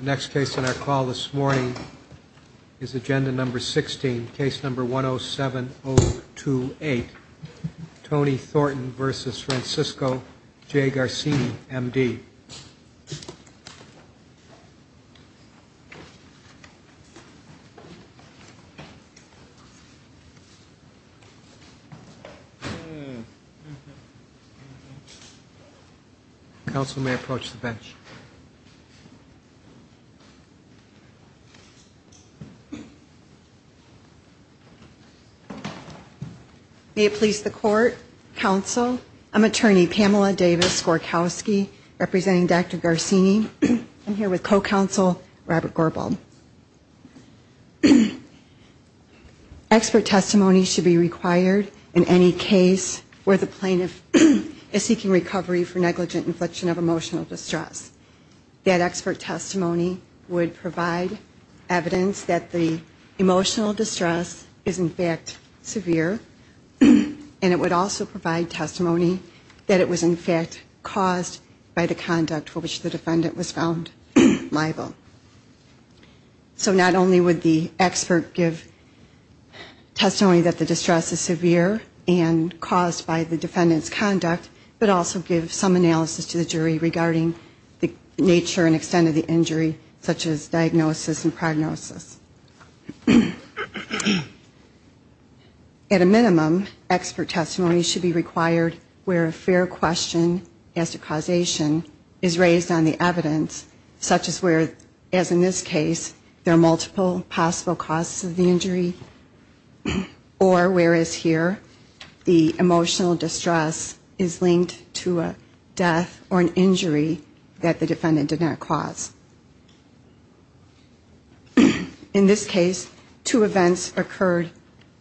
Next case on our call this morning is agenda number 16, case number 107028, Tony Thornton v. Francisco J. Garcini, M.D. Counsel may approach the bench. May it please the court, counsel, I'm attorney Pamela Davis Gorkowski representing Dr. Garcini. I'm here with co-counsel Robert Gorbald. Expert testimony should be required in any case where the plaintiff is seeking recovery for negligent infliction of emotional distress. That expert testimony would provide evidence that the emotional distress is in fact severe and it would also provide testimony that it was in fact caused by the conduct for which the defendant was found liable. So not only would the expert give testimony that the distress is severe and caused by the defendant's conduct, but also give some nature and extent of the injury such as diagnosis and prognosis. At a minimum, expert testimony should be required where a fair question as to causation is raised on the evidence such as where, as in this case, there are multiple possible causes of the injury or whereas here the emotional distress is linked to a death or an injury that the defendant did not cause. In this case, two events occurred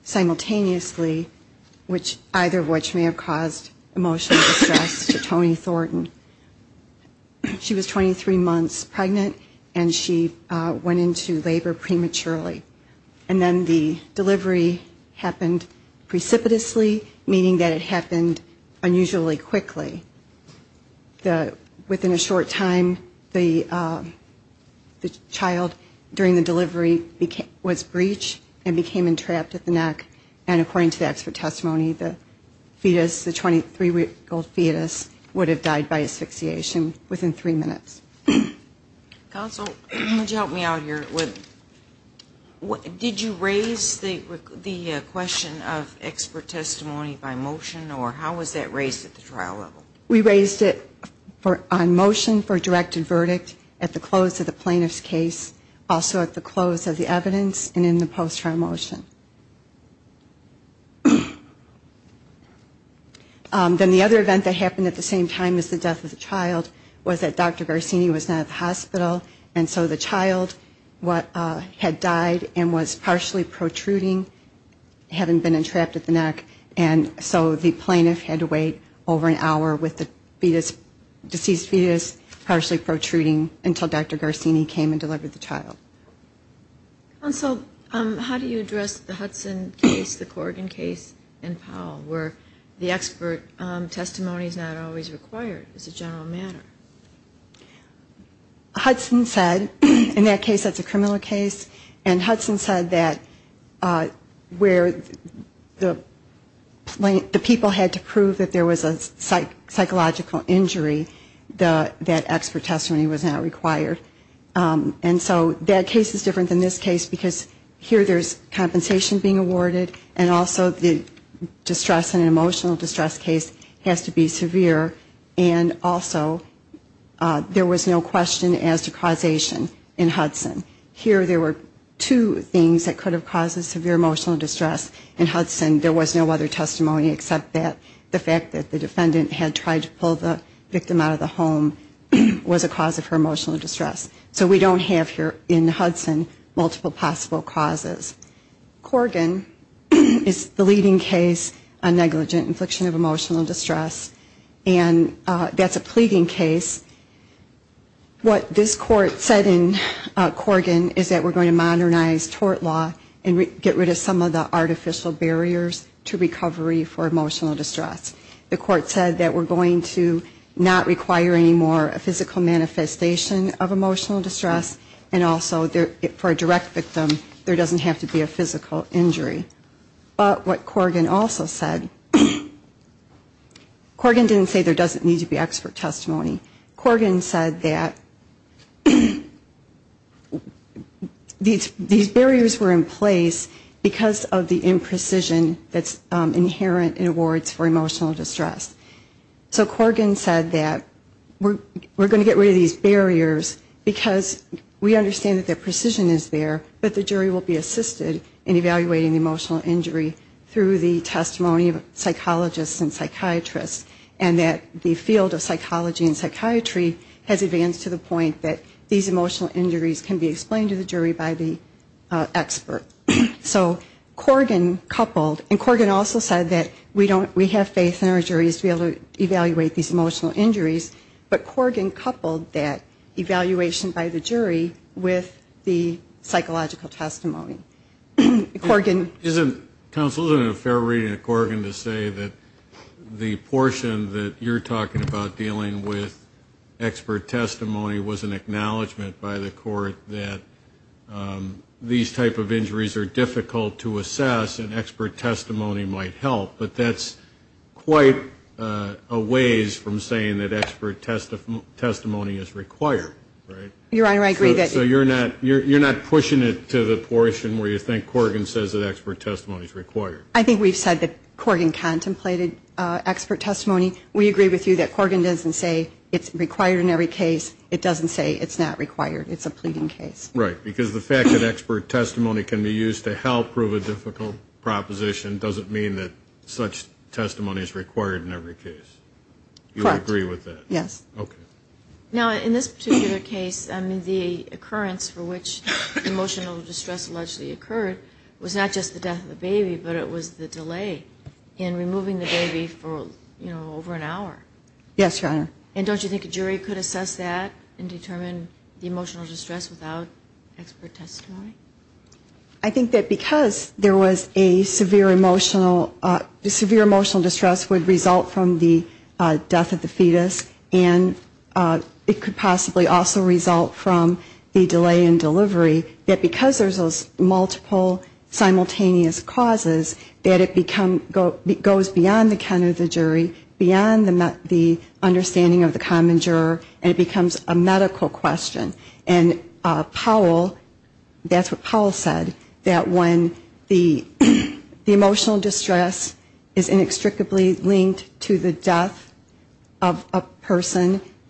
simultaneously, either of which may have caused emotional distress to Toni Thornton. She was 23 months pregnant and she went into labor prematurely. And then the delivery happened precipitously, meaning that it happened unusually quickly. Within a short time, the child during the delivery was breached and became entrapped at the neck and according to the expert testimony, the fetus, the 23-week-old fetus, would have died by asphyxiation within three minutes. Counsel, would you help me out here? Did you raise the question of expert testimony by motion or how was that raised at the trial level? We raised it on motion for directed verdict at the close of the plaintiff's case, also at the close of the evidence and in the post-trial motion. Then the other event that happened at the same time as the death of the child was that Dr. Garcini was not at the hospital, and so the child had died and was partially protruding, hadn't been entrapped at the neck, and so the plaintiff had to wait over an hour with the deceased fetus partially protruding until Dr. Garcini came and delivered the child. Counsel, how do you address the Hudson case, the Corrigan case, and Powell, where the expert testimony is not always required as a general matter? Hudson said, in that case that's a criminal case, and Hudson said that where the people had to prove that there was a psychological injury, that expert testimony was not required. And so that case is different than this case, because here there's compensation being awarded, and also the distress and emotional distress case has to be severe, and also there was no question as to causation in Hudson. Here there were two things that could have caused severe emotional distress in Hudson. There was no other testimony except that the fact that the defendant had tried to pull the victim out of the home was a cause of her emotional distress. So we don't have here in Hudson multiple possible causes. Corrigan is the leading case on negligent infliction of emotional distress, and that's a pleading case. What this court said in Corrigan is that we're going to modernize tort law and get rid of some of the artificial barriers to recovery for emotional distress. The court said that we're going to not require anymore a physical manifestation of emotional distress, and also for a direct victim there doesn't have to be a physical injury. But what Corrigan also said, Corrigan didn't say there doesn't need to be expert testimony. Corrigan said that these barriers were in place because of the imprecision that's inherent in awards for emotional distress. So Corrigan said that we're going to get rid of these barriers because we understand that the precision is there, but the jury will be assisted in evaluating the emotional injury through the testimony of psychologists and psychiatrists, and that the field of psychology and psychiatry has advanced to the point that these emotional injuries can be explained to the jury by the expert. So Corrigan coupled, and Corrigan also said that we have faith in our juries to be able to evaluate these emotional injuries, but Corrigan coupled that evaluation by the jury with the psychological testimony. Corrigan. Isn't, counsel, isn't it a fair reading of Corrigan to say that the portion that you're talking about dealing with expert testimony was an acknowledgment by the court that these type of injuries are difficult to assess and expert testimony might help, but that's quite a ways from saying that expert testimony is required, right? Your Honor, I agree that. So you're not pushing it to the portion where you think Corrigan says that expert testimony is required? I think we've said that Corrigan contemplated expert testimony. We agree with you that Corrigan doesn't say it's required in every case. It doesn't say it's not required. It's a pleading case. Right. Because the fact that expert testimony can be used to help prove a difficult proposition doesn't mean that such testimony is required in every case. Correct. You agree with that? Yes. Okay. Now, in this particular case, I mean, the occurrence for which emotional distress allegedly occurred was not just the death of a baby, but it was the delay in removing the baby for, you know, over an hour. Yes, Your Honor. And don't you think a jury could assess that and determine the emotional distress without expert testimony? I think that because there was a severe emotional distress would result from the death of the fetus, and it could possibly also result from the delay in delivery, that because there's those multiple simultaneous causes, that it goes beyond the count of the jury, beyond the understanding of the common juror, and it becomes a medical question. And Powell, that's what Powell said, that when the emotional distress is inextricably linked to the death of a baby,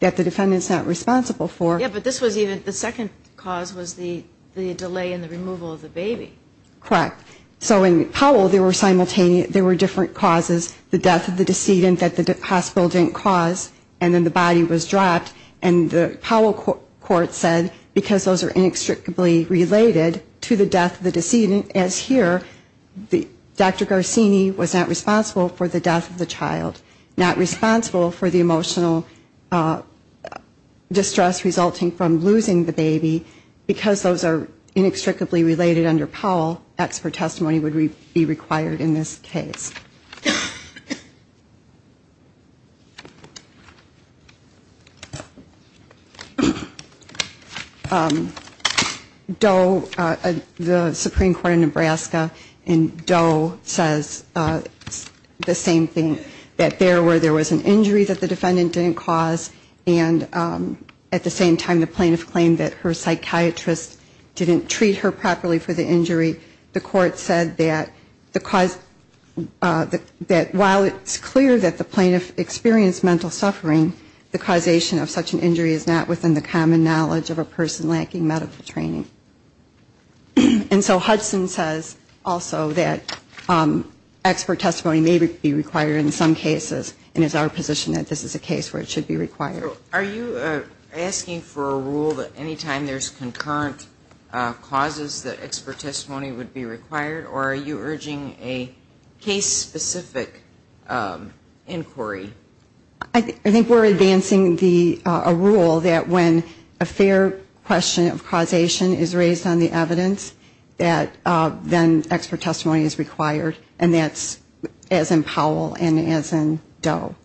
that the defendant's not responsible for. Yeah, but this was even, the second cause was the delay in the removal of the baby. Correct. So in Powell, there were different causes, the death of the decedent that the hospital didn't cause, and then the body was dropped, and the Powell court said because those are inextricably related to the death of the decedent, as here, Dr. Garcini was not responsible for the death of the child, not responsible for the emotional distress resulting from losing the baby, because those are inextricably related under Powell, expert testimony would be required in this case. Doe, the Supreme Court of Nebraska, in Doe says the same thing, that there were, there was an injury that the defendant didn't cause, and at the same time, the plaintiff claimed that her psychiatrist didn't treat her properly for the injury. The court said that the cause, that while it's clear that the plaintiff experienced mental suffering, the causation of such an injury is not within the common knowledge of a person lacking medical training. And so Hudson says also that expert testimony may be required in some cases, and it's our position that this is a case where it should be required. Are you asking for a rule that any time there's concurrent causes that expert testimony would be required, or are you urging a case-specific inquiry? I think we're advancing the, a rule that when a fair question of causation is raised on the evidence, that then expert testimony is required, and that's as in Powell and as in Doe.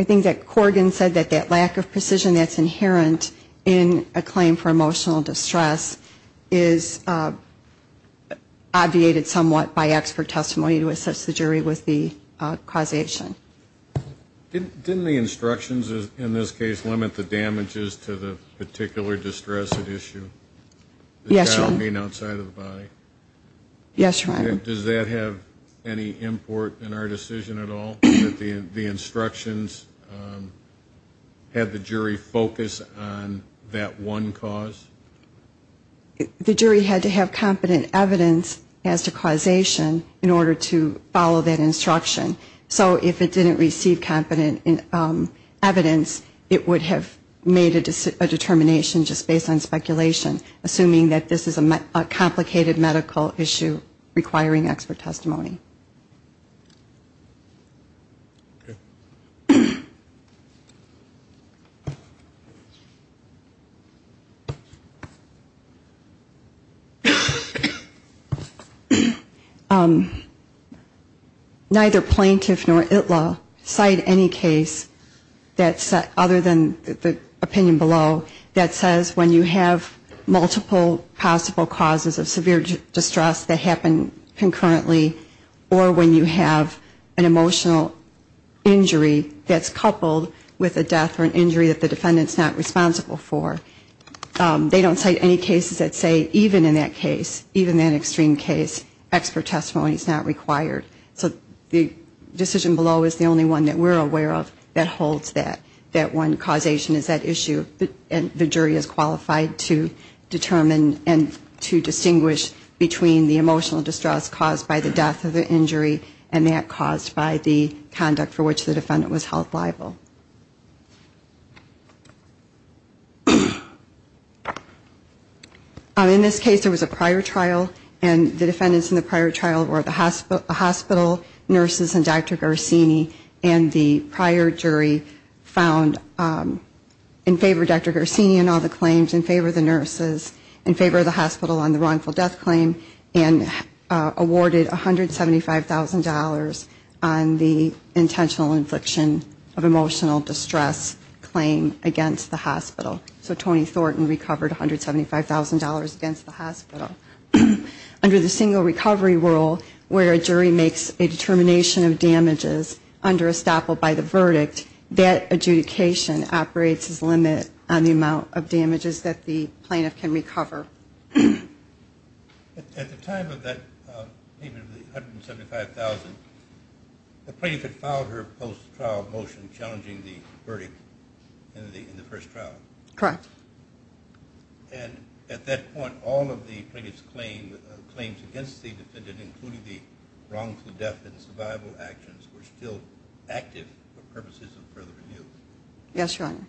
I think that Corrigan said that that lack of precision that's inherent in a claim for emotional distress is obviated somewhat by expert testimony to assess the jury with the causation. Didn't the instructions in this case limit the damages to the particular distress at issue? Yes, Your Honor. Does that have any import in our decision at all, that the instructions had the jury focus on that one cause? The jury had to have competent evidence as to causation in order to follow that instruction. So if it didn't receive competent evidence, it would have made a determination just based on speculation. Assuming that this is a complicated medical issue requiring expert testimony. Neither plaintiff nor ITLA cite any case that, other than the opinion below, that says when you have multiple cases, that you have multiple cases. Multiple possible causes of severe distress that happen concurrently, or when you have an emotional injury that's coupled with a death or an injury that the defendant's not responsible for. They don't cite any cases that say even in that case, even that extreme case, expert testimony is not required. So the decision below is the only one that we're aware of that holds that, that one causation is at issue, and the jury is qualified to determine that. And to distinguish between the emotional distress caused by the death or the injury, and that caused by the conduct for which the defendant was held liable. In this case, there was a prior trial, and the defendants in the prior trial were the hospital nurses and Dr. Garcini, and the prior jury found in favor of Dr. Garcini in all the claims, in favor of the nurses. In favor of the hospital on the wrongful death claim, and awarded $175,000 on the intentional infliction of emotional distress claim against the hospital. So Tony Thornton recovered $175,000 against the hospital. Under the single recovery rule, where a jury makes a determination of damages under estoppel by the verdict, that adjudication operates as limit on the amount of damages that the plaintiff can recover. At the time of that payment of the $175,000, the plaintiff had filed her post-trial motion challenging the verdict in the first trial. And at that point, all of the plaintiff's claims against the defendant, including the wrongful death and survival actions, were still active for purposes of further review. Yes, Your Honor.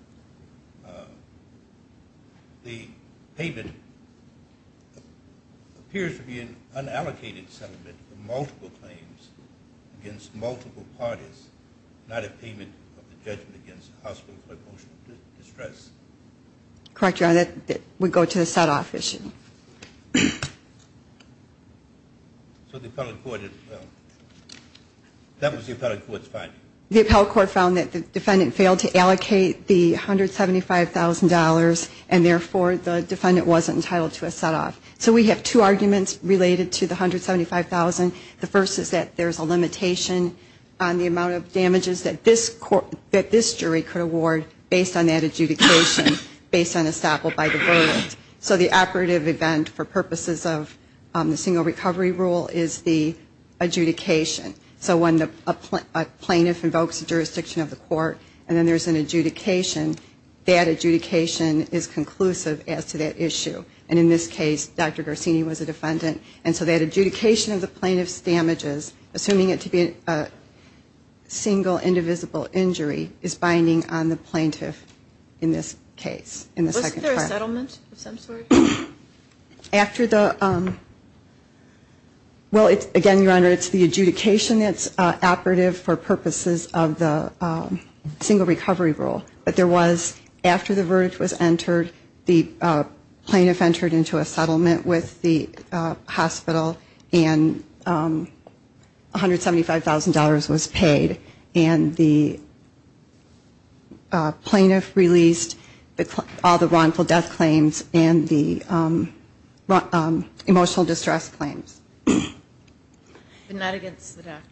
The payment appears to be an unallocated settlement of multiple claims against multiple parties, not a payment of the judgment against the hospital for emotional distress. Correct, Your Honor, that would go to the set-off issue. So the appellate court, that was the appellate court's finding? The appellate court found that the defendant failed to allocate the $175,000, and therefore the defendant wasn't entitled to a set-off. So we have two arguments related to the $175,000. The first is that there's a limitation on the amount of damages that this jury could award based on that adjudication, based on estoppel by the verdict. So the operative event for purposes of the single recovery rule is the adjudication. So when a plaintiff invokes a jurisdiction of the court, and then there's an adjudication, that adjudication is conclusive as to that issue. And in this case, Dr. Garcini was a defendant, and so that adjudication of the plaintiff's damages, assuming it to be a single indivisible injury, is binding on the plaintiff in this case. Wasn't there a settlement of some sort? After the, well, again, Your Honor, it's the adjudication that's operative for purposes of the single recovery rule. But there was, after the verdict was entered, the plaintiff entered into a settlement with the hospital, and $175,000 was paid. And the plaintiff released all the wrongful death claims, and the plaintiff was acquitted. And the plaintiff was acquitted of the emotional distress claims. But not against the doctor.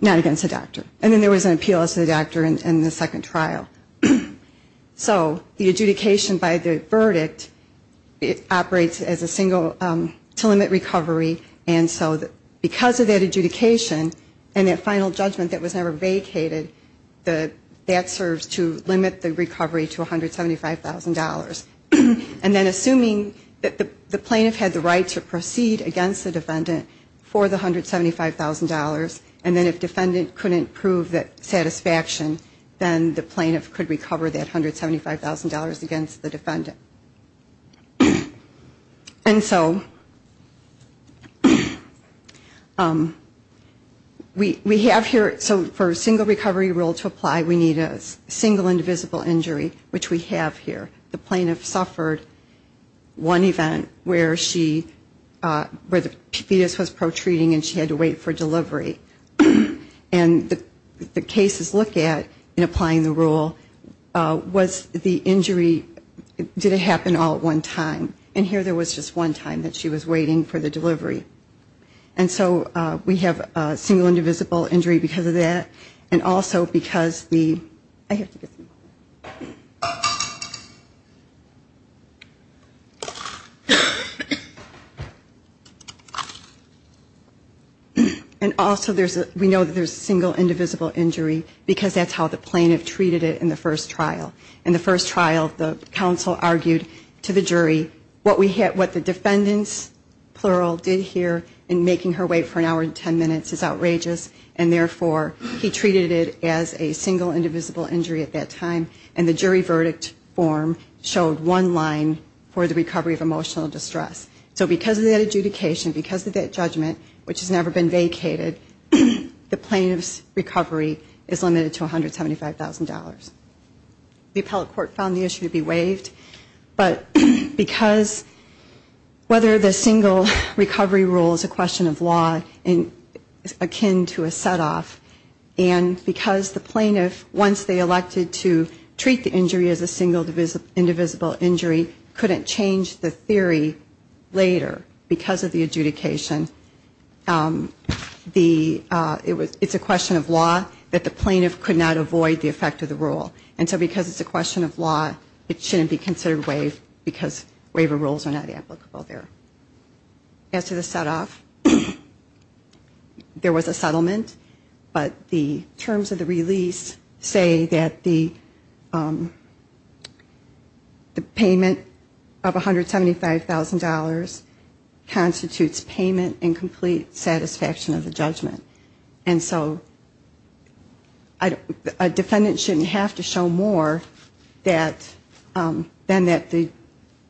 Not against the doctor. And then there was an appeal as to the doctor in the second trial. So the adjudication by the verdict, it operates as a single, to limit recovery, and so because of that adjudication, and that final judgment that was never vacated, that serves to limit the recovery to $175,000. And assuming that the plaintiff had the right to proceed against the defendant for the $175,000, and then if defendant couldn't prove that satisfaction, then the plaintiff could recover that $175,000 against the defendant. And so we have here, so for a single recovery rule to apply, we need a single indivisible injury, which we have here. The plaintiff suffered one event where she, where the fetus was pro-treating and she had to wait for delivery. And the cases look at, in applying the rule, was the injury, did it happen all at one time? And here there was just one time that she was waiting for the delivery. And so we have a single indivisible injury because of that, and also because the, I have to get this. And also there's a, we know that there's a single indivisible injury because that's how the plaintiff treated it in the first trial. In the first trial, the counsel argued to the jury what we had, what the defendant's, plural, did here in making her wait for an hour and ten minutes is outrageous, and therefore he treated it as a single indivisible injury at that time. And the jury verdict form showed one line for the recovery of emotional distress. So because of that adjudication, because of that judgment, which has never been vacated, the plaintiff's recovery is limited to $175,000. The appellate court found the issue to be waived, but because whether the single recovery rule is a question of law and akin to a set off, and because the plaintiff, once they elected to treat the injury as a single indivisible injury, couldn't change the theory later because of the adjudication, the, it's a question of law that the plaintiff could not avoid the effect of the rule. And so because it's a question of law, it shouldn't be considered waived because waiver rules are not applicable there. As to the set off, there was a settlement, but the terms of the release, it was a set off. And so I don't want to say that the payment of $175,000 constitutes payment in complete satisfaction of the judgment. And so a defendant shouldn't have to show more than that the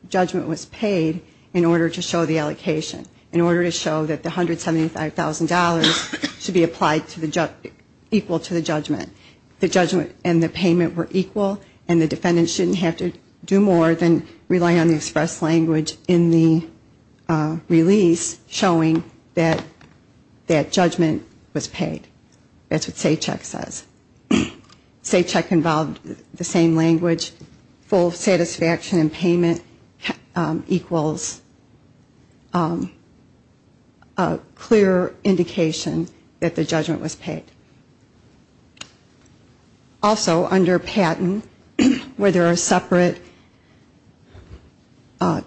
judgment was paid in order to show the allocation, in order to show that the $175,000 should be applied equal to the judgment. And the payment were equal, and the defendant shouldn't have to do more than rely on the express language in the release showing that that judgment was paid. That's what SACCHEC says. SACCHEC involved the same language, full satisfaction and payment equals a clear indication that the judgment was paid. Also, under patent, where there are separate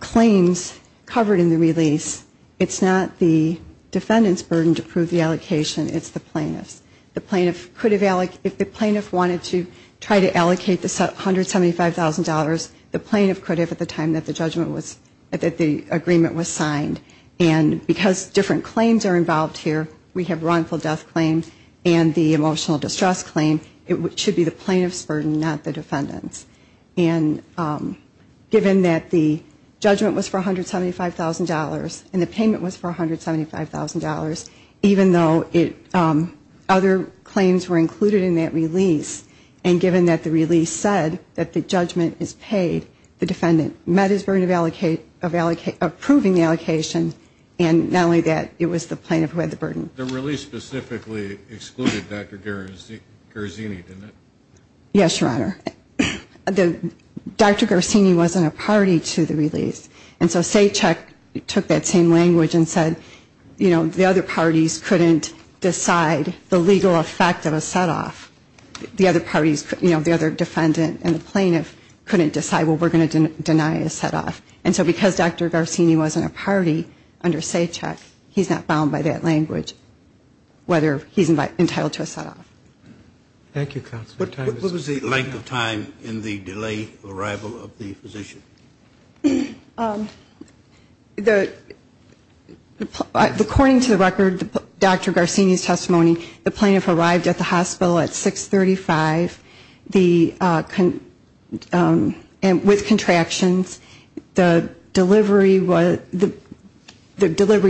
claims covered in the release, it's not the defendant's burden to prove the allocation, it's the plaintiff's. The plaintiff could have, if the plaintiff wanted to try to allocate the $175,000, the plaintiff could have at the time that the judgment was, that the agreement was signed. And because different claims are involved here, we have wrongful death claim and the emotional distress claim, it should be the plaintiff's burden to prove the allocation. It should be the plaintiff's burden, not the defendant's. And given that the judgment was for $175,000 and the payment was for $175,000, even though other claims were included in that release, and given that the release said that the judgment is paid, the defendant met his burden of proving the allocation, and not only that, it was the plaintiff who had the burden. The release specifically excluded Dr. Garzini, didn't it? Yes, Your Honor. Dr. Garzini wasn't a party to the release. And so SACCHEC took that same language and said, you know, the other parties couldn't decide the legal effect of a setoff. The other parties, you know, the other defendant and the plaintiff couldn't decide, well, we're going to deny a setoff. And so because Dr. Garzini wasn't a party under SACCHEC, he's not bound by that language, whether he's entitled to a setoff. Thank you, counsel. What was the length of time in the delay arrival of the physician? According to the record, Dr. Garzini's testimony, the plaintiff arrived at the hospital at 635 with contractions. The delivery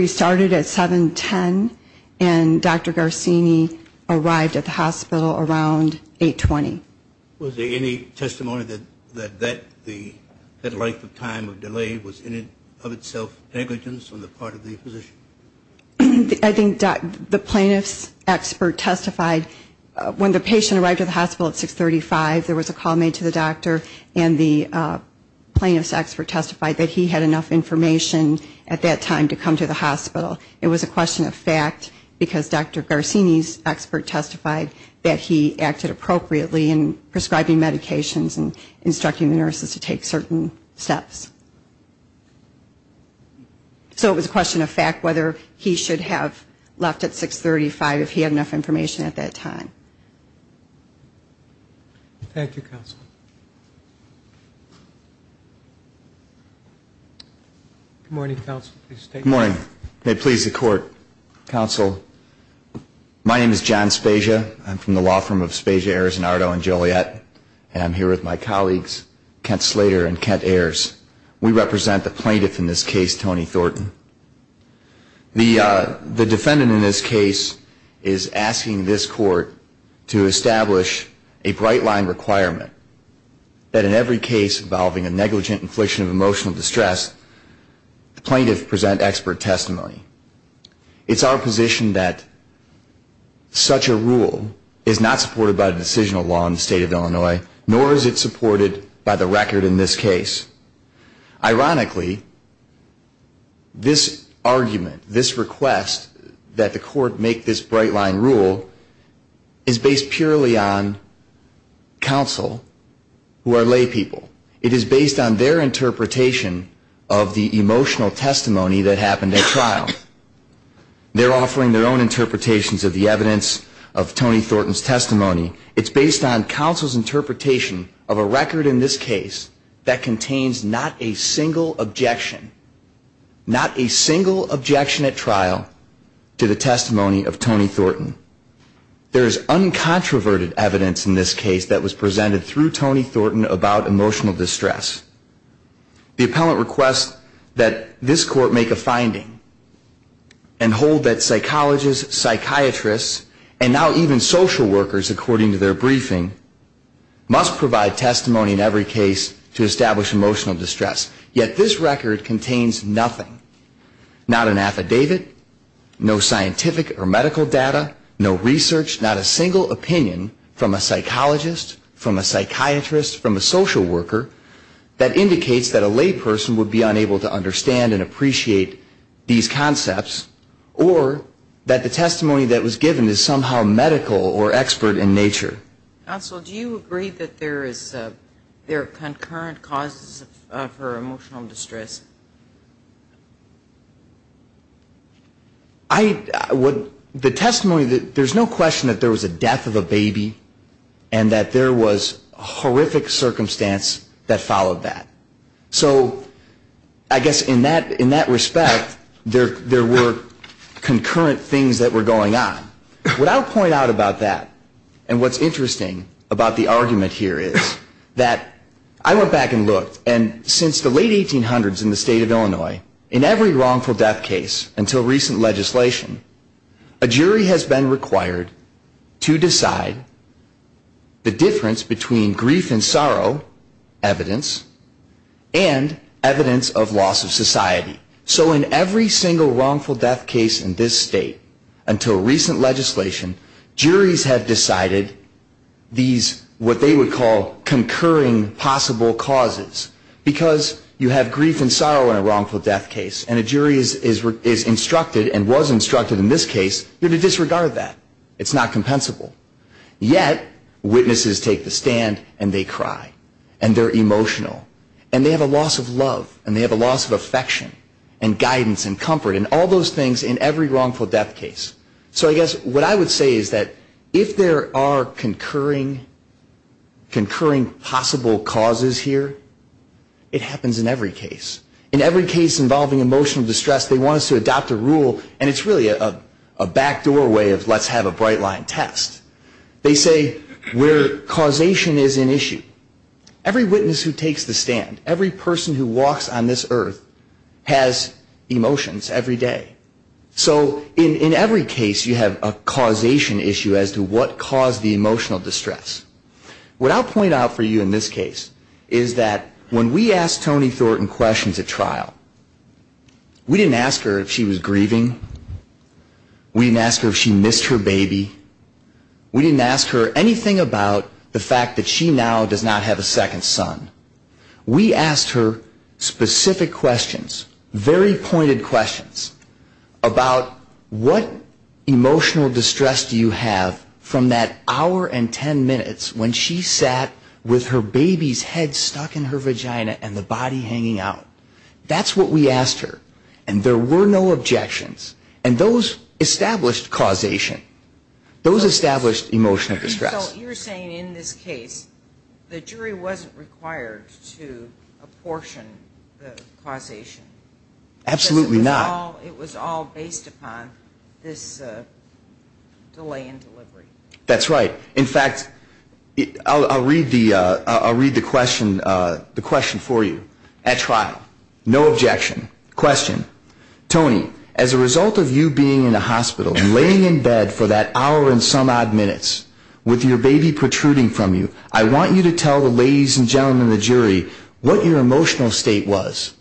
started at 710, and Dr. Garzini arrived at the hospital around 820. Was there any testimony that that length of time of delay was in and of itself negligence on the part of the physician? I think the plaintiff's expert testified when the patient arrived at the hospital at 635, there was a call made to the doctor, and the plaintiff's expert testified that he had enough information at that time to come to the hospital. It was a question of fact, because Dr. Garzini's expert testified that he acted appropriately in prescribing medications and instructing the nurses to take certain steps. So it was a question of fact whether he should have left at 635 if he had enough information at that time. Thank you, counsel. Good morning, counsel. Good morning. May it please the court. Counsel, my name is John Spezia. I'm from the law firm of Spezia, Arizonardo, and Joliet, and I'm here with my colleagues, Kent Slater and Kent Ayers. We represent the plaintiff in this case, Tony Thornton. The defendant in this case is asking this court to establish a bright-line requirement that in every case involving a negligent infliction of emotional distress, the plaintiff present expert testimony. It's our position that such a rule is not supported by the decisional law in the state of Illinois, nor is it supported by the record in this case. Ironically, this argument, this request that the court make this bright-line rule is based purely on counsel who are lay people. It is based on their interpretation of the emotional testimony that happened at trial. They're offering their own interpretations of the evidence of Tony Thornton's testimony. It's based on counsel's interpretation of a record in this case that contains not a single objection, not a single objection at trial to the testimony of Tony Thornton. There is uncontroverted evidence in this case that was presented through Tony Thornton about emotional distress. The appellant requests that this court make a finding and hold that psychologists, psychiatrists, and now even social workers, according to the briefing, must provide testimony in every case to establish emotional distress. Yet this record contains nothing, not an affidavit, no scientific or medical data, no research, not a single opinion from a psychologist, from a psychiatrist, from a social worker that indicates that a lay person would be unable to understand and appreciate these concepts, or that the evidence is based on emotional distress in nature. Counsel, do you agree that there are concurrent causes of her emotional distress? I would, the testimony, there's no question that there was a death of a baby and that there was horrific circumstance that followed that. So I guess in that respect, there were concurrent things that were going on. What's interesting about the argument here is that I went back and looked, and since the late 1800s in the state of Illinois, in every wrongful death case until recent legislation, a jury has been required to decide the difference between grief and sorrow evidence and evidence of loss of society. So in every single wrongful death case in this state until recent legislation, juries have decided these, what they would call concurring possible causes, because you have grief and sorrow in a wrongful death case, and a jury is instructed and was instructed in this case to disregard that. It's not compensable. Yet, witnesses take the stand, and they cry, and they're emotional, and they have a loss of love, and they have a loss of affection, and guidance and comfort, and all those things in every wrongful death case. So I guess what I would say is that if there are concurring possible causes here, it happens in every case. In every case involving emotional distress, they want us to adopt a rule, and it's really a back doorway of let's have a bright line test. They say where causation is an issue. Every witness who takes the stand, every person who walks on this earth, has emotions every day. So in every case, you have a causation issue as to what caused the emotional distress. What I'll point out for you in this case is that when we asked Toni Thornton questions at trial, we didn't ask her if she was pregnant, we didn't ask her anything about the fact that she now does not have a second son. We asked her specific questions, very pointed questions, about what emotional distress do you have from that hour and ten minutes when she sat with her baby's head stuck in her vagina and the body hanging out. That's what we asked her, and there were no objections, and those established causation. Those established emotional distress. So you're saying in this case, the jury wasn't required to apportion the causation. Absolutely not. Because it was all based upon this delay in delivery. That's right. In fact, I'll read the question for you at trial. No objection. Question. Toni, as a result of you being in a hospital, laying in bed for that hour and some odd minutes, with your baby protruding from you, I want you to tell the ladies and gentlemen in the jury what your emotional state was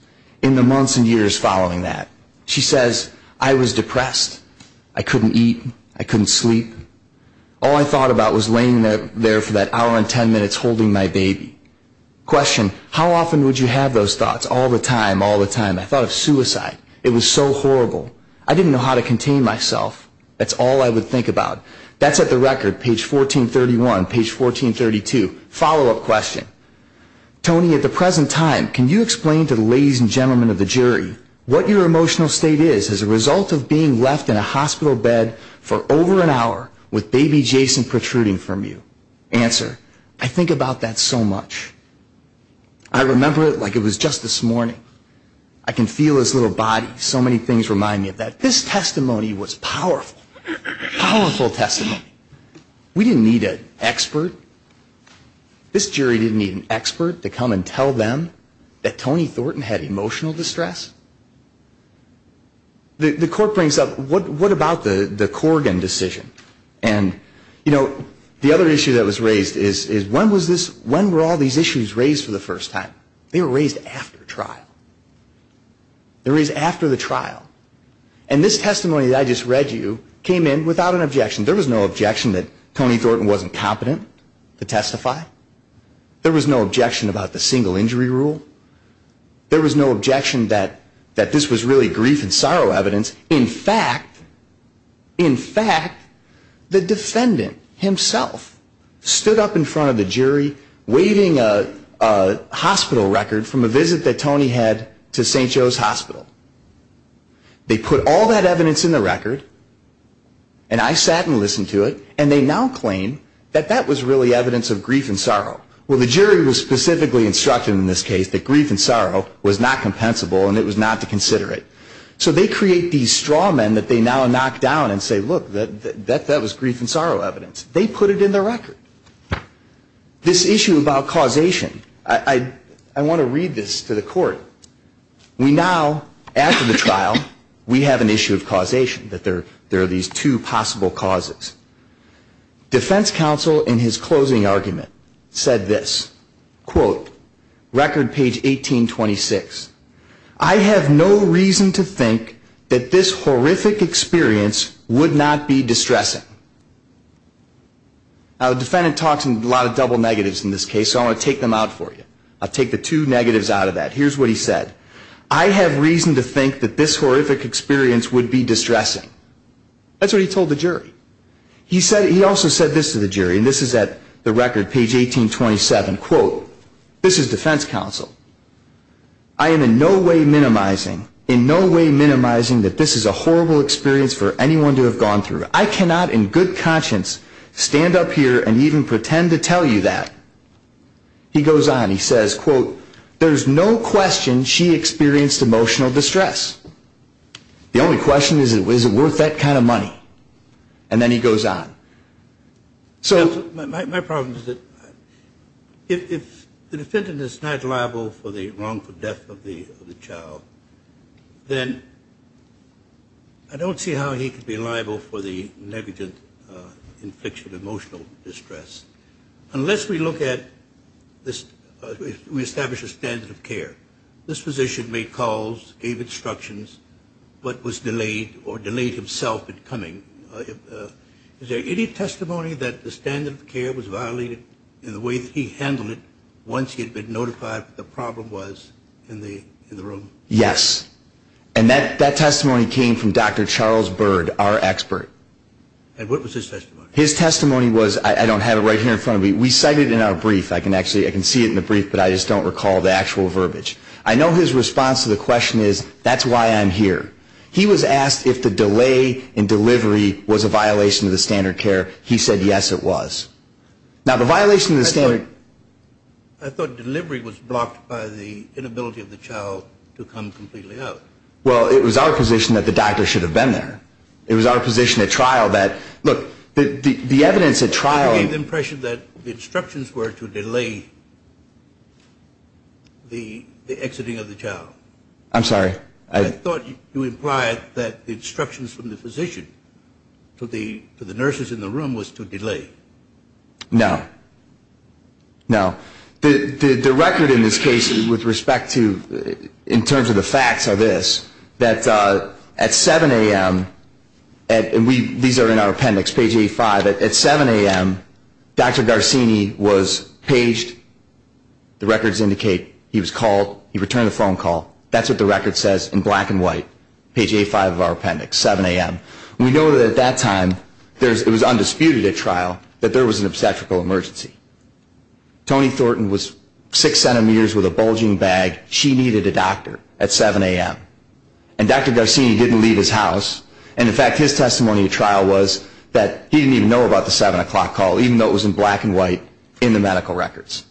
in the months and years following that. She says, I was depressed. I couldn't eat. I couldn't sleep. All I thought about was laying there for that hour and ten minutes holding my baby. Question. How often would you have those thoughts? All the time, all the time. I thought of suicide. It was so horrible. I didn't know how to contain myself. That's all I would think about. That's at the record, page 1431, page 1432. Follow-up question. Toni, at the present time, can you explain to the ladies and gentlemen of the jury what your emotional state is as a result of being left in a hospital bed for over an hour with baby Jason protruding from you? Answer. I think about that so much. I remember it like it was just this morning. I can feel his little body. So many things remind me of that. This testimony was powerful. Powerful testimony. We didn't need an expert. This jury didn't need an expert to come and tell them that Toni Thornton had emotional distress. The court brings up, what about the Corrigan decision? And, you know, the other issue that was raised is when were all these issues raised for the first time? They were raised after trial. They were raised after the trial. And this testimony that I just read you came in without an objection. There was no objection that Toni Thornton wasn't competent to testify. There was no objection about the single injury rule. There was no objection that this was really grief and sorrow evidence. In fact, in fact, the defendant himself stood up in front of the jury, waving a hospital record from a visit that Toni had to St. Joe's Hospital. They put all that evidence in the record, and I sat and listened to it, and they now claim that that was really evidence of grief and sorrow. Well, the jury was specifically instructed in this case that grief and sorrow was not compensable and it was not to consider it. So they create these straw men that they now knock down and say, look, that was grief and sorrow evidence. They put it in the record. This issue about causation, I want to read this to the court. We now, after the trial, we have an issue of causation, that there are these two possible causes. Defense counsel in his closing argument said this, quote, record page 1826, I have no reason to think that this horrific experience would not be distressing. Now, the defendant talks in a lot of double negatives in this case, so I want to take them out for you. I'll take the two negatives out of that. Here's what he said. I have reason to think that this horrific experience would be distressing. That's what he told the jury. He also said this to the jury, and this is at the record, page 1827, quote, this is defense counsel. I am in no way minimizing, in no way minimizing that this is a horrible experience for anyone to have gone through. I cannot in good conscience stand up here and even pretend to tell you that. He goes on, he says, quote, there's no question she experienced emotional distress. The only question is, is it worth that kind of money? And then he goes on. My problem is that if the defendant is not liable for the wrongful death of the child, then I don't see how he could be liable for the negligent infliction of emotional distress. Unless we look at this, we establish a standard of care. This physician made calls, gave instructions, but was delayed or delayed himself in coming. Is there any testimony that the standard of care was violated in the way that he handled it once he had been notified what the problem was in the room? Yes. And that testimony came from Dr. Charles Bird, our expert. And what was his testimony? His testimony was, I don't have it right here in front of me, we cited it in our brief. I can see it in the brief, but I just don't recall the actual verbiage. I know his response to the question is, that's why I'm here. He was asked if the delay in delivery was a violation of the standard of care. He said, yes, it was. Now, the violation of the standard... I thought delivery was blocked by the inability of the child to come completely out. Well, it was our position that the doctor should have been there. It was our position at trial that, look, the evidence at trial... You gave the impression that the instructions were to delay the exiting of the child. I'm sorry? I thought you implied that the instructions from the physician to the nurses in the room was to delay. No. No. The record in this case, with respect to, in terms of the facts, are this. That at 7 a.m., and these are in our appendix, page 85, at 7 a.m., Dr. Garcini was paged. The records indicate he was called, he returned a phone call. That's what the record says in black and white, page 85 of our appendix, 7 a.m. We know that at that time, it was undisputed at trial, that there was an obstetrical emergency. Toni Thornton was 6 centimeters with a bulging bag. She needed a doctor at 7 a.m. And Dr. Garcini didn't leave his house. And, in fact, his testimony at trial was that he didn't even know about the 7 o'clock call, even though it was in black and white in the medical records.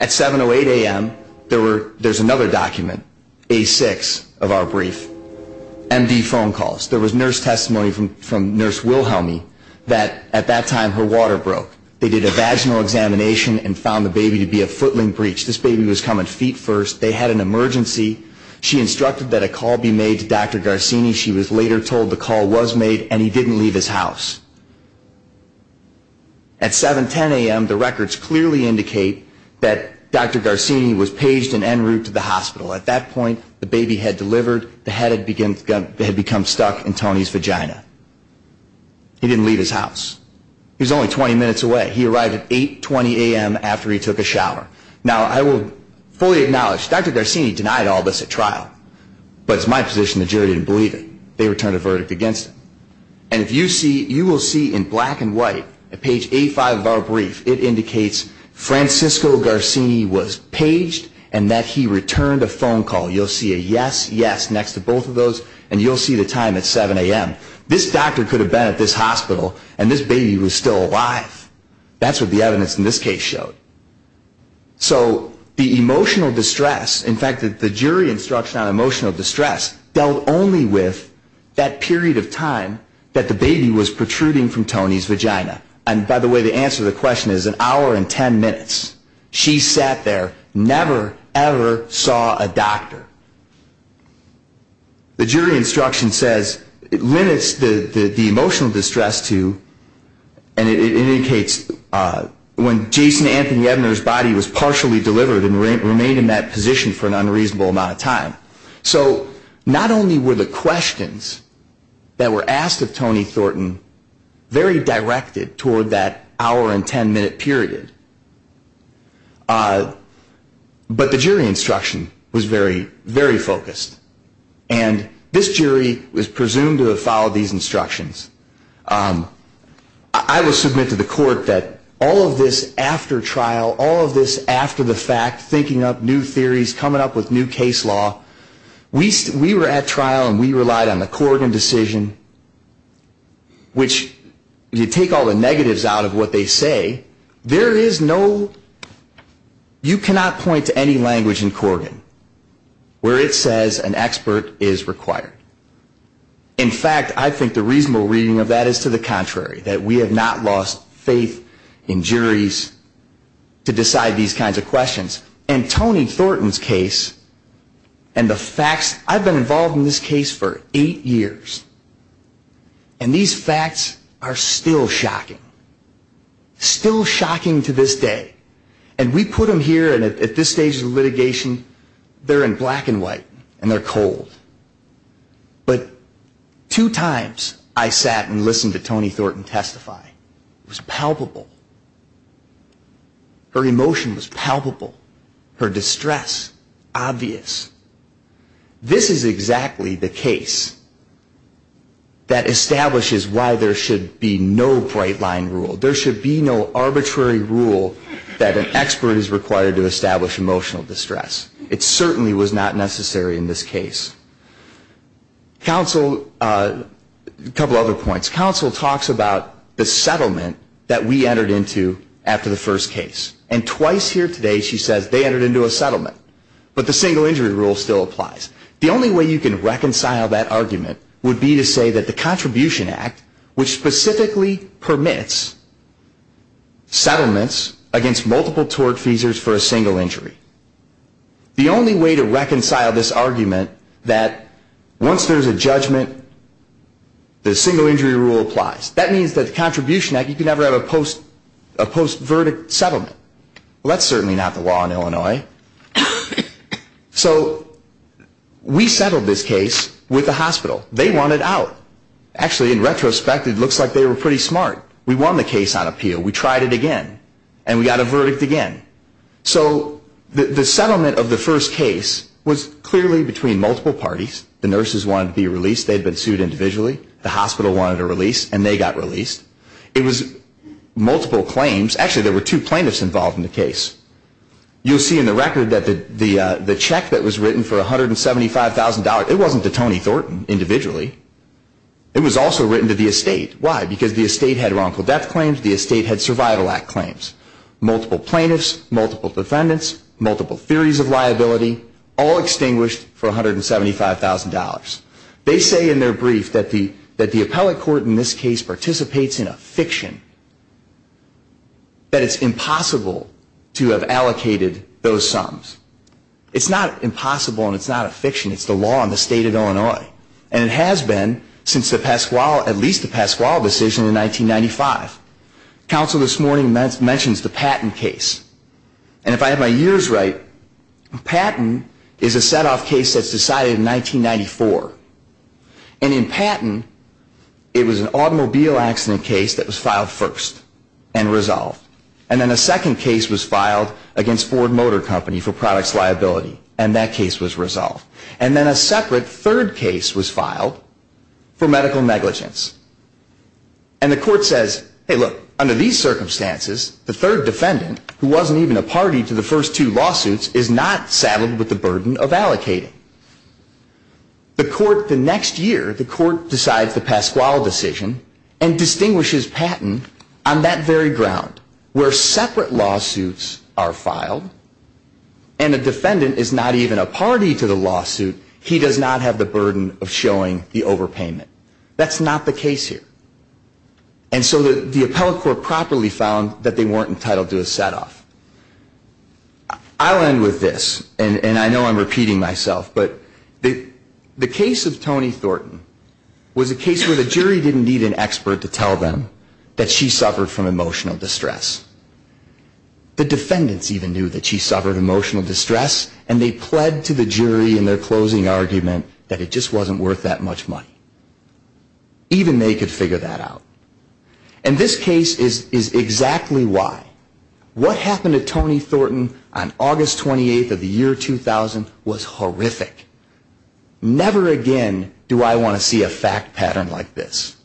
At 7 or 8 a.m., there's another document, A6 of our brief, M.D. phone calls. There was nurse testimony from Nurse Wilhelmi that, at that time, her water broke. They did a vaginal examination and found the baby to be a footling breech. This baby was coming feet first. They had an emergency. She instructed that a call be made to Dr. Garcini. She was later told the call was made, and he didn't leave his house. At 7, 10 a.m., the records clearly indicate that Dr. Garcini was paged and en route to the hospital. At that point, the baby had delivered. The head had become stuck in Toni's vagina. He didn't leave his house. He was only 20 minutes away. He arrived at 8, 20 a.m. after he took a shower. Now, I will fully acknowledge, Dr. Garcini denied all this at trial, but it's my position the jury didn't believe it. They returned a verdict against him. And if you see, you will see in black and white at page 85 of our brief, it indicates Francisco Garcini was paged and that he returned a phone call. You'll see a yes, yes next to both of those, and you'll see the time at 7 a.m. This doctor could have been at this hospital, and this baby was still alive. That's what the evidence in this case showed. So the emotional distress, in fact, the jury instruction on emotional distress dealt only with that period of time that the baby was protruding from Toni's vagina. And, by the way, the answer to the question is an hour and 10 minutes. She sat there, never, ever saw a doctor. The jury instruction says it limits the emotional distress to, and it indicates when Jason Anthony Ebner's body was partially delivered So not only were the questions that were asked of Toni Thornton very directed toward that hour and 10 minute period, but the jury instruction was very, very focused. And this jury was presumed to have followed these instructions. I will submit to the court that all of this after trial, all of this after the fact, thinking up new theories, coming up with new case law, we were at trial and we relied on the Corrigan decision, which you take all the negatives out of what they say. There is no, you cannot point to any language in Corrigan where it says an expert is required. In fact, I think the reasonable reading of that is to the contrary, that we have not lost faith in juries to decide these kinds of questions. And Toni Thornton's case and the facts, I've been involved in this case for eight years, and these facts are still shocking. Still shocking to this day. And we put them here and at this stage of litigation, they're in black and white and they're cold. But two times I sat and listened to Toni Thornton testify. It was palpable. Her emotion was palpable. Her distress, obvious. This is exactly the case that establishes why there should be no bright line rule. There should be no arbitrary rule that an expert is required to establish emotional distress. It certainly was not necessary in this case. Counsel, a couple other points. Counsel talks about the settlement that we entered into after the first case. And twice here today she says they entered into a settlement. But the single injury rule still applies. The only way you can reconcile that argument would be to say that the Contribution Act, which specifically permits settlements against multiple tort feasors for a single injury. The only way to reconcile this argument that once there's a judgment, the single injury rule applies. That means that the Contribution Act, you can never have a post-verdict settlement. That's certainly not the law in Illinois. So we settled this case with the hospital. They wanted out. Actually, in retrospect, it looks like they were pretty smart. We won the case on appeal. We tried it again. And we got a verdict again. So the settlement of the first case was clearly between multiple parties. The nurses wanted to be released. They had been sued individually. The hospital wanted a release. And they got released. It was multiple claims. Actually, there were two plaintiffs involved in the case. You'll see in the record that the check that was written for $175,000, it wasn't to Tony Thornton individually. It was also written to the estate. Why? Because the estate had wrongful death claims. The estate had Survival Act claims. Multiple plaintiffs, multiple defendants, multiple theories of liability, all extinguished for $175,000. They say in their brief that the appellate court in this case participates in a fiction, that it's impossible to have allocated those sums. It's not impossible and it's not a fiction. It's the law in the state of Illinois. And it has been since at least the Pasquale decision in 1995. Counsel this morning mentions the Patton case. And if I have my years right, Patton is a set-off case that's decided in 1994. And in Patton, it was an automobile accident case that was filed first and resolved. And then a second case was filed against Ford Motor Company for products liability, and that case was resolved. And then a separate third case was filed for medical negligence. And the court says, hey, look, under these circumstances, the third defendant, who wasn't even a party to the first two lawsuits, is not saddled with the burden of allocating. The court the next year, the court decides the Pasquale decision and distinguishes Patton on that very ground where separate lawsuits are filed and the defendant is not even a party to the lawsuit, he does not have the burden of showing the overpayment. That's not the case here. And so the appellate court properly found that they weren't entitled to a set-off. I'll end with this, and I know I'm repeating myself, but the case of Toni Thornton was a case where the jury didn't need an expert to tell them that she suffered from emotional distress. The defendants even knew that she suffered emotional distress, and they pled to the jury in their closing argument that it just wasn't worth that much money. Even they could figure that out. And this case is exactly why. What happened to Toni Thornton on August 28th of the year 2000 was horrific. Never again do I want to see a fact pattern like this.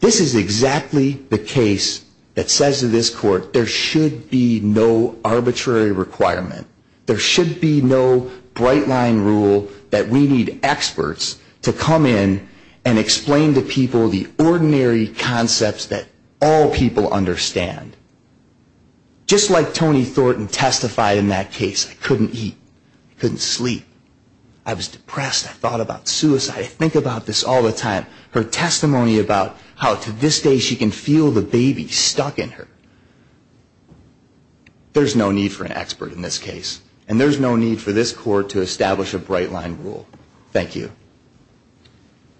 This is exactly the case that says to this court there should be no arbitrary requirement. There should be no bright-line rule that we need experts to come in and explain to people the ordinary concepts that all people understand. Just like Toni Thornton testified in that case, I couldn't eat. I couldn't sleep. I was depressed. I thought about suicide. I think about this all the time. Her testimony about how to this day she can feel the baby stuck in her. There's no need for an expert in this case, and there's no need for this court to establish a bright-line rule. Thank you.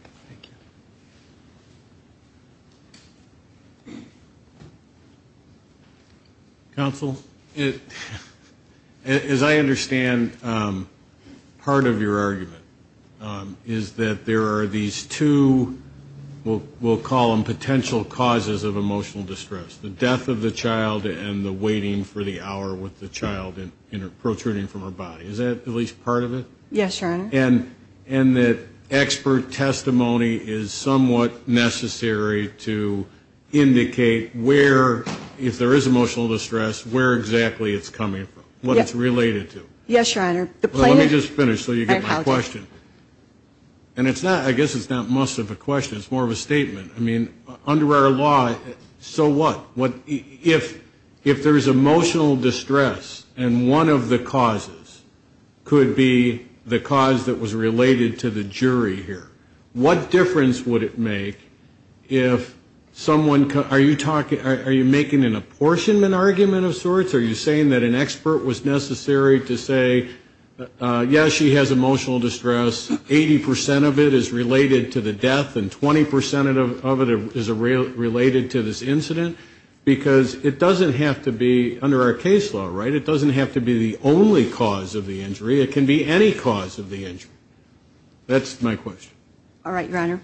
Thank you. Counsel, as I understand part of your argument is that there are these two, we'll call them potential causes of emotional distress, the death of the child and the waiting for the hour with the child protruding from her body. Is that at least part of it? Yes, Your Honor. And that expert testimony is somewhat necessary to indicate where, if there is emotional distress, where exactly it's coming from, what it's related to. Yes, Your Honor. Let me just finish so you get my question. And I guess it's not most of a question. It's more of a statement. I mean, under our law, so what? If there is emotional distress and one of the causes could be the cause that was related to the jury here, what difference would it make if someone, are you making an apportionment argument of sorts? Are you saying that an expert was necessary to say, yes, she has emotional distress, 80% of it is related to the death and 20% of it is related to this incident? Because it doesn't have to be, under our case law, right, it doesn't have to be the only cause of the injury. It can be any cause of the injury. That's my question. All right, Your Honor.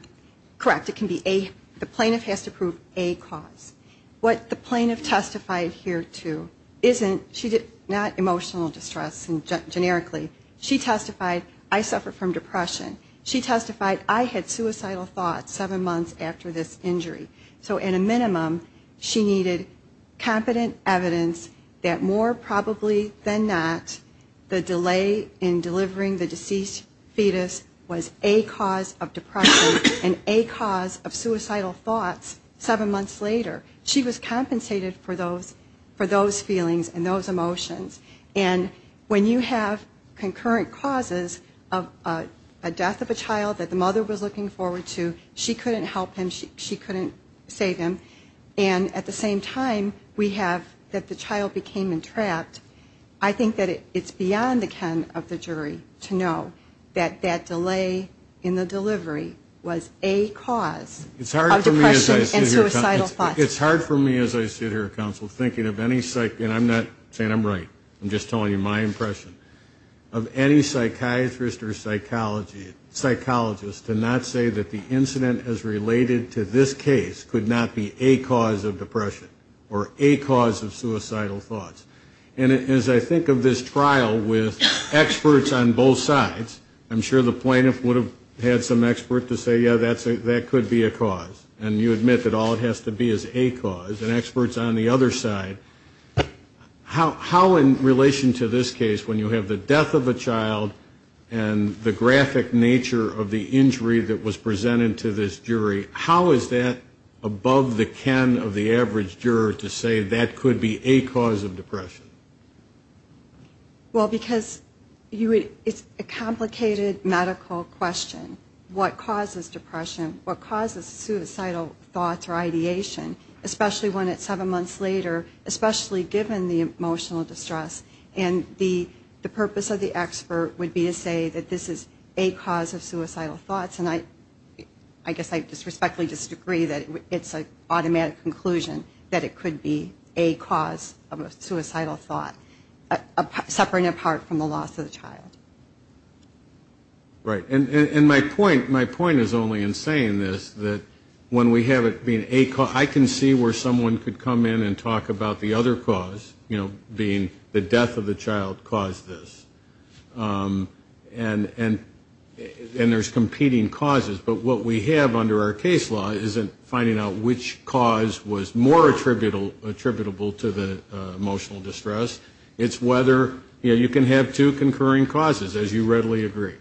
Correct, it can be a, the plaintiff has to prove a cause. What the plaintiff testified here to isn't, she did not emotional distress generically. She testified, I suffer from depression. She testified, I had suicidal thoughts seven months after this injury. So in a minimum, she needed competent evidence that more probably than not, the delay in delivering the deceased fetus was a cause of depression and a cause of suicidal thoughts seven months later. She was compensated for those feelings and those emotions. And when you have concurrent causes of a death of a child that the mother was looking forward to, she couldn't help him, she couldn't save him, and at the same time we have that the child became entrapped, I think that it's beyond the ken of the jury to know that that delay in the delivery was a cause of depression and suicidal thoughts. It's hard for me as I sit here, counsel, thinking of any psych, and I'm not saying I'm right, I'm just telling you my impression, of any psychiatrist or psychologist to not say that the incident as related to this case could not be a cause of depression or a cause of suicidal thoughts. And as I think of this trial with experts on both sides, I'm sure the plaintiff would have had some expert to say, yeah, that could be a cause. And you admit that all it has to be is a cause, and experts on the other side, how in relation to this case when you have the death of a child and the graphic nature of the injury that was presented to this jury, how is that above the ken of the average juror to say that could be a cause of depression? Well, because it's a complicated medical question. What causes depression, what causes suicidal thoughts or ideation, especially when it's seven months later, especially given the emotional distress? And the purpose of the expert would be to say that this is a cause of suicidal thoughts, and I guess I disrespectfully disagree that it's an automatic conclusion that it could be a cause of a suicidal thought, separate and apart from the loss of the child. Right. And my point is only in saying this, that when we have it being a cause, I can see where someone could come in and talk about the other cause, you know, being the death of the child caused this. And there's competing causes, but what we have under our case law isn't finding out which cause was more attributable to the emotional distress. It's whether, you know, you can have two concurring causes, as you readily agree.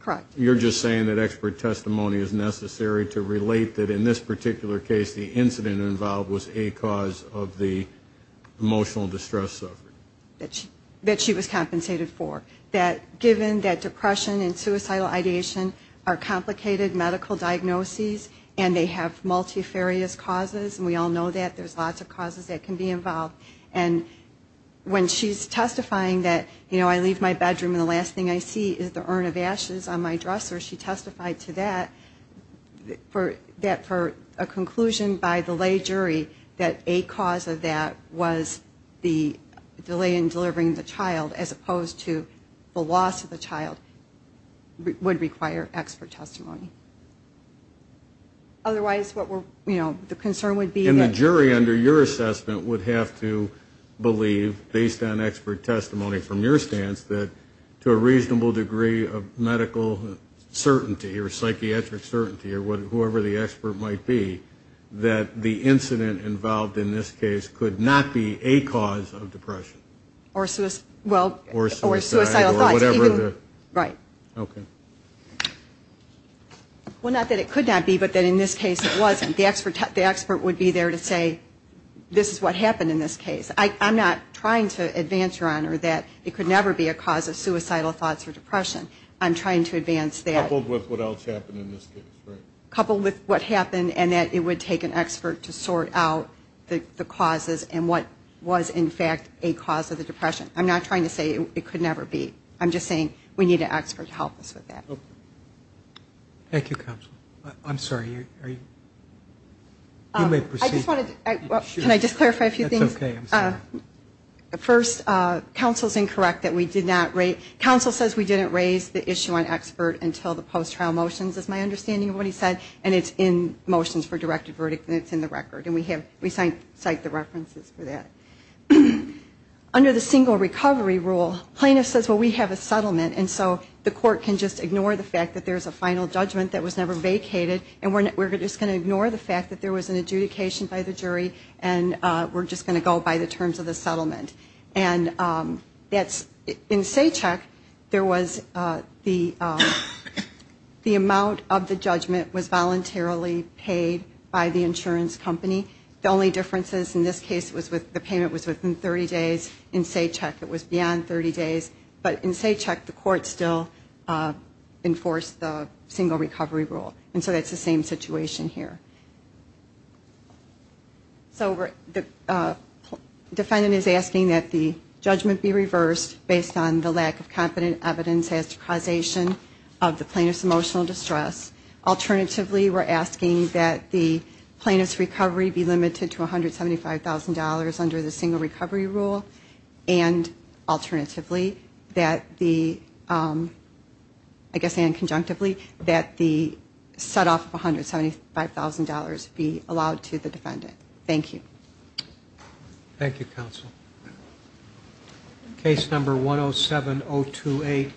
Correct. You're just saying that expert testimony is necessary to relate that in this particular case the incident involved was a cause of the emotional distress suffered. That she was compensated for. That given that depression and suicidal ideation are complicated medical diagnoses and they have multifarious causes, and we all know that, there's lots of causes that can be involved. And when she's testifying that, you know, I leave my bedroom and the last thing I see is the urn of ashes on my dresser, she testified to that for a conclusion by the lay jury that a cause of that was the delay in delivering the child as opposed to the loss of the child would require expert testimony. Otherwise, what we're, you know, the concern would be. And the jury under your assessment would have to believe, based on expert testimony from your stance, that to a reasonable degree of medical certainty or psychiatric certainty or whoever the expert might be, that the incident involved in this case could not be a cause of depression. Or suicidal thoughts. Right. Okay. Well, not that it could not be, but that in this case it wasn't. The expert would be there to say, this is what happened in this case. I'm not trying to advance, Your Honor, that it could never be a cause of suicidal thoughts or depression. I'm trying to advance that. Coupled with what else happened in this case, right. Coupled with what happened and that it would take an expert to sort out the causes and what was in fact a cause of the depression. I'm not trying to say it could never be. I'm just saying we need an expert to help us with that. Thank you, counsel. I'm sorry. You may proceed. Can I just clarify a few things? That's okay. I'm sorry. First, counsel's incorrect that we did not rate. Counsel says we didn't raise the issue on expert until the post-trial motions, is my understanding of what he said. And it's in motions for directed verdict and it's in the record. And we cite the references for that. Under the single recovery rule, plaintiff says, well, we have a settlement, and so the court can just ignore the fact that there's a final judgment that was never vacated and we're just going to ignore the fact that there was an adjudication by the jury and we're just going to go by the terms of the settlement. And in SACCHEC, there was the amount of the judgment was voluntarily paid by the insurance company. The only differences in this case was the payment was within 30 days. In SACCHEC, it was beyond 30 days. But in SACCHEC, the court still enforced the single recovery rule. And so that's the same situation here. So the defendant is asking that the judgment be reversed based on the lack of competent evidence as to causation of the plaintiff's emotional distress. Alternatively, we're asking that the plaintiff's recovery be limited to $175,000 under the single recovery rule. And alternatively, that the, I guess and conjunctively, that the setoff of $175,000 be allowed to the defendant. Thank you. Thank you, counsel. Case number 107028.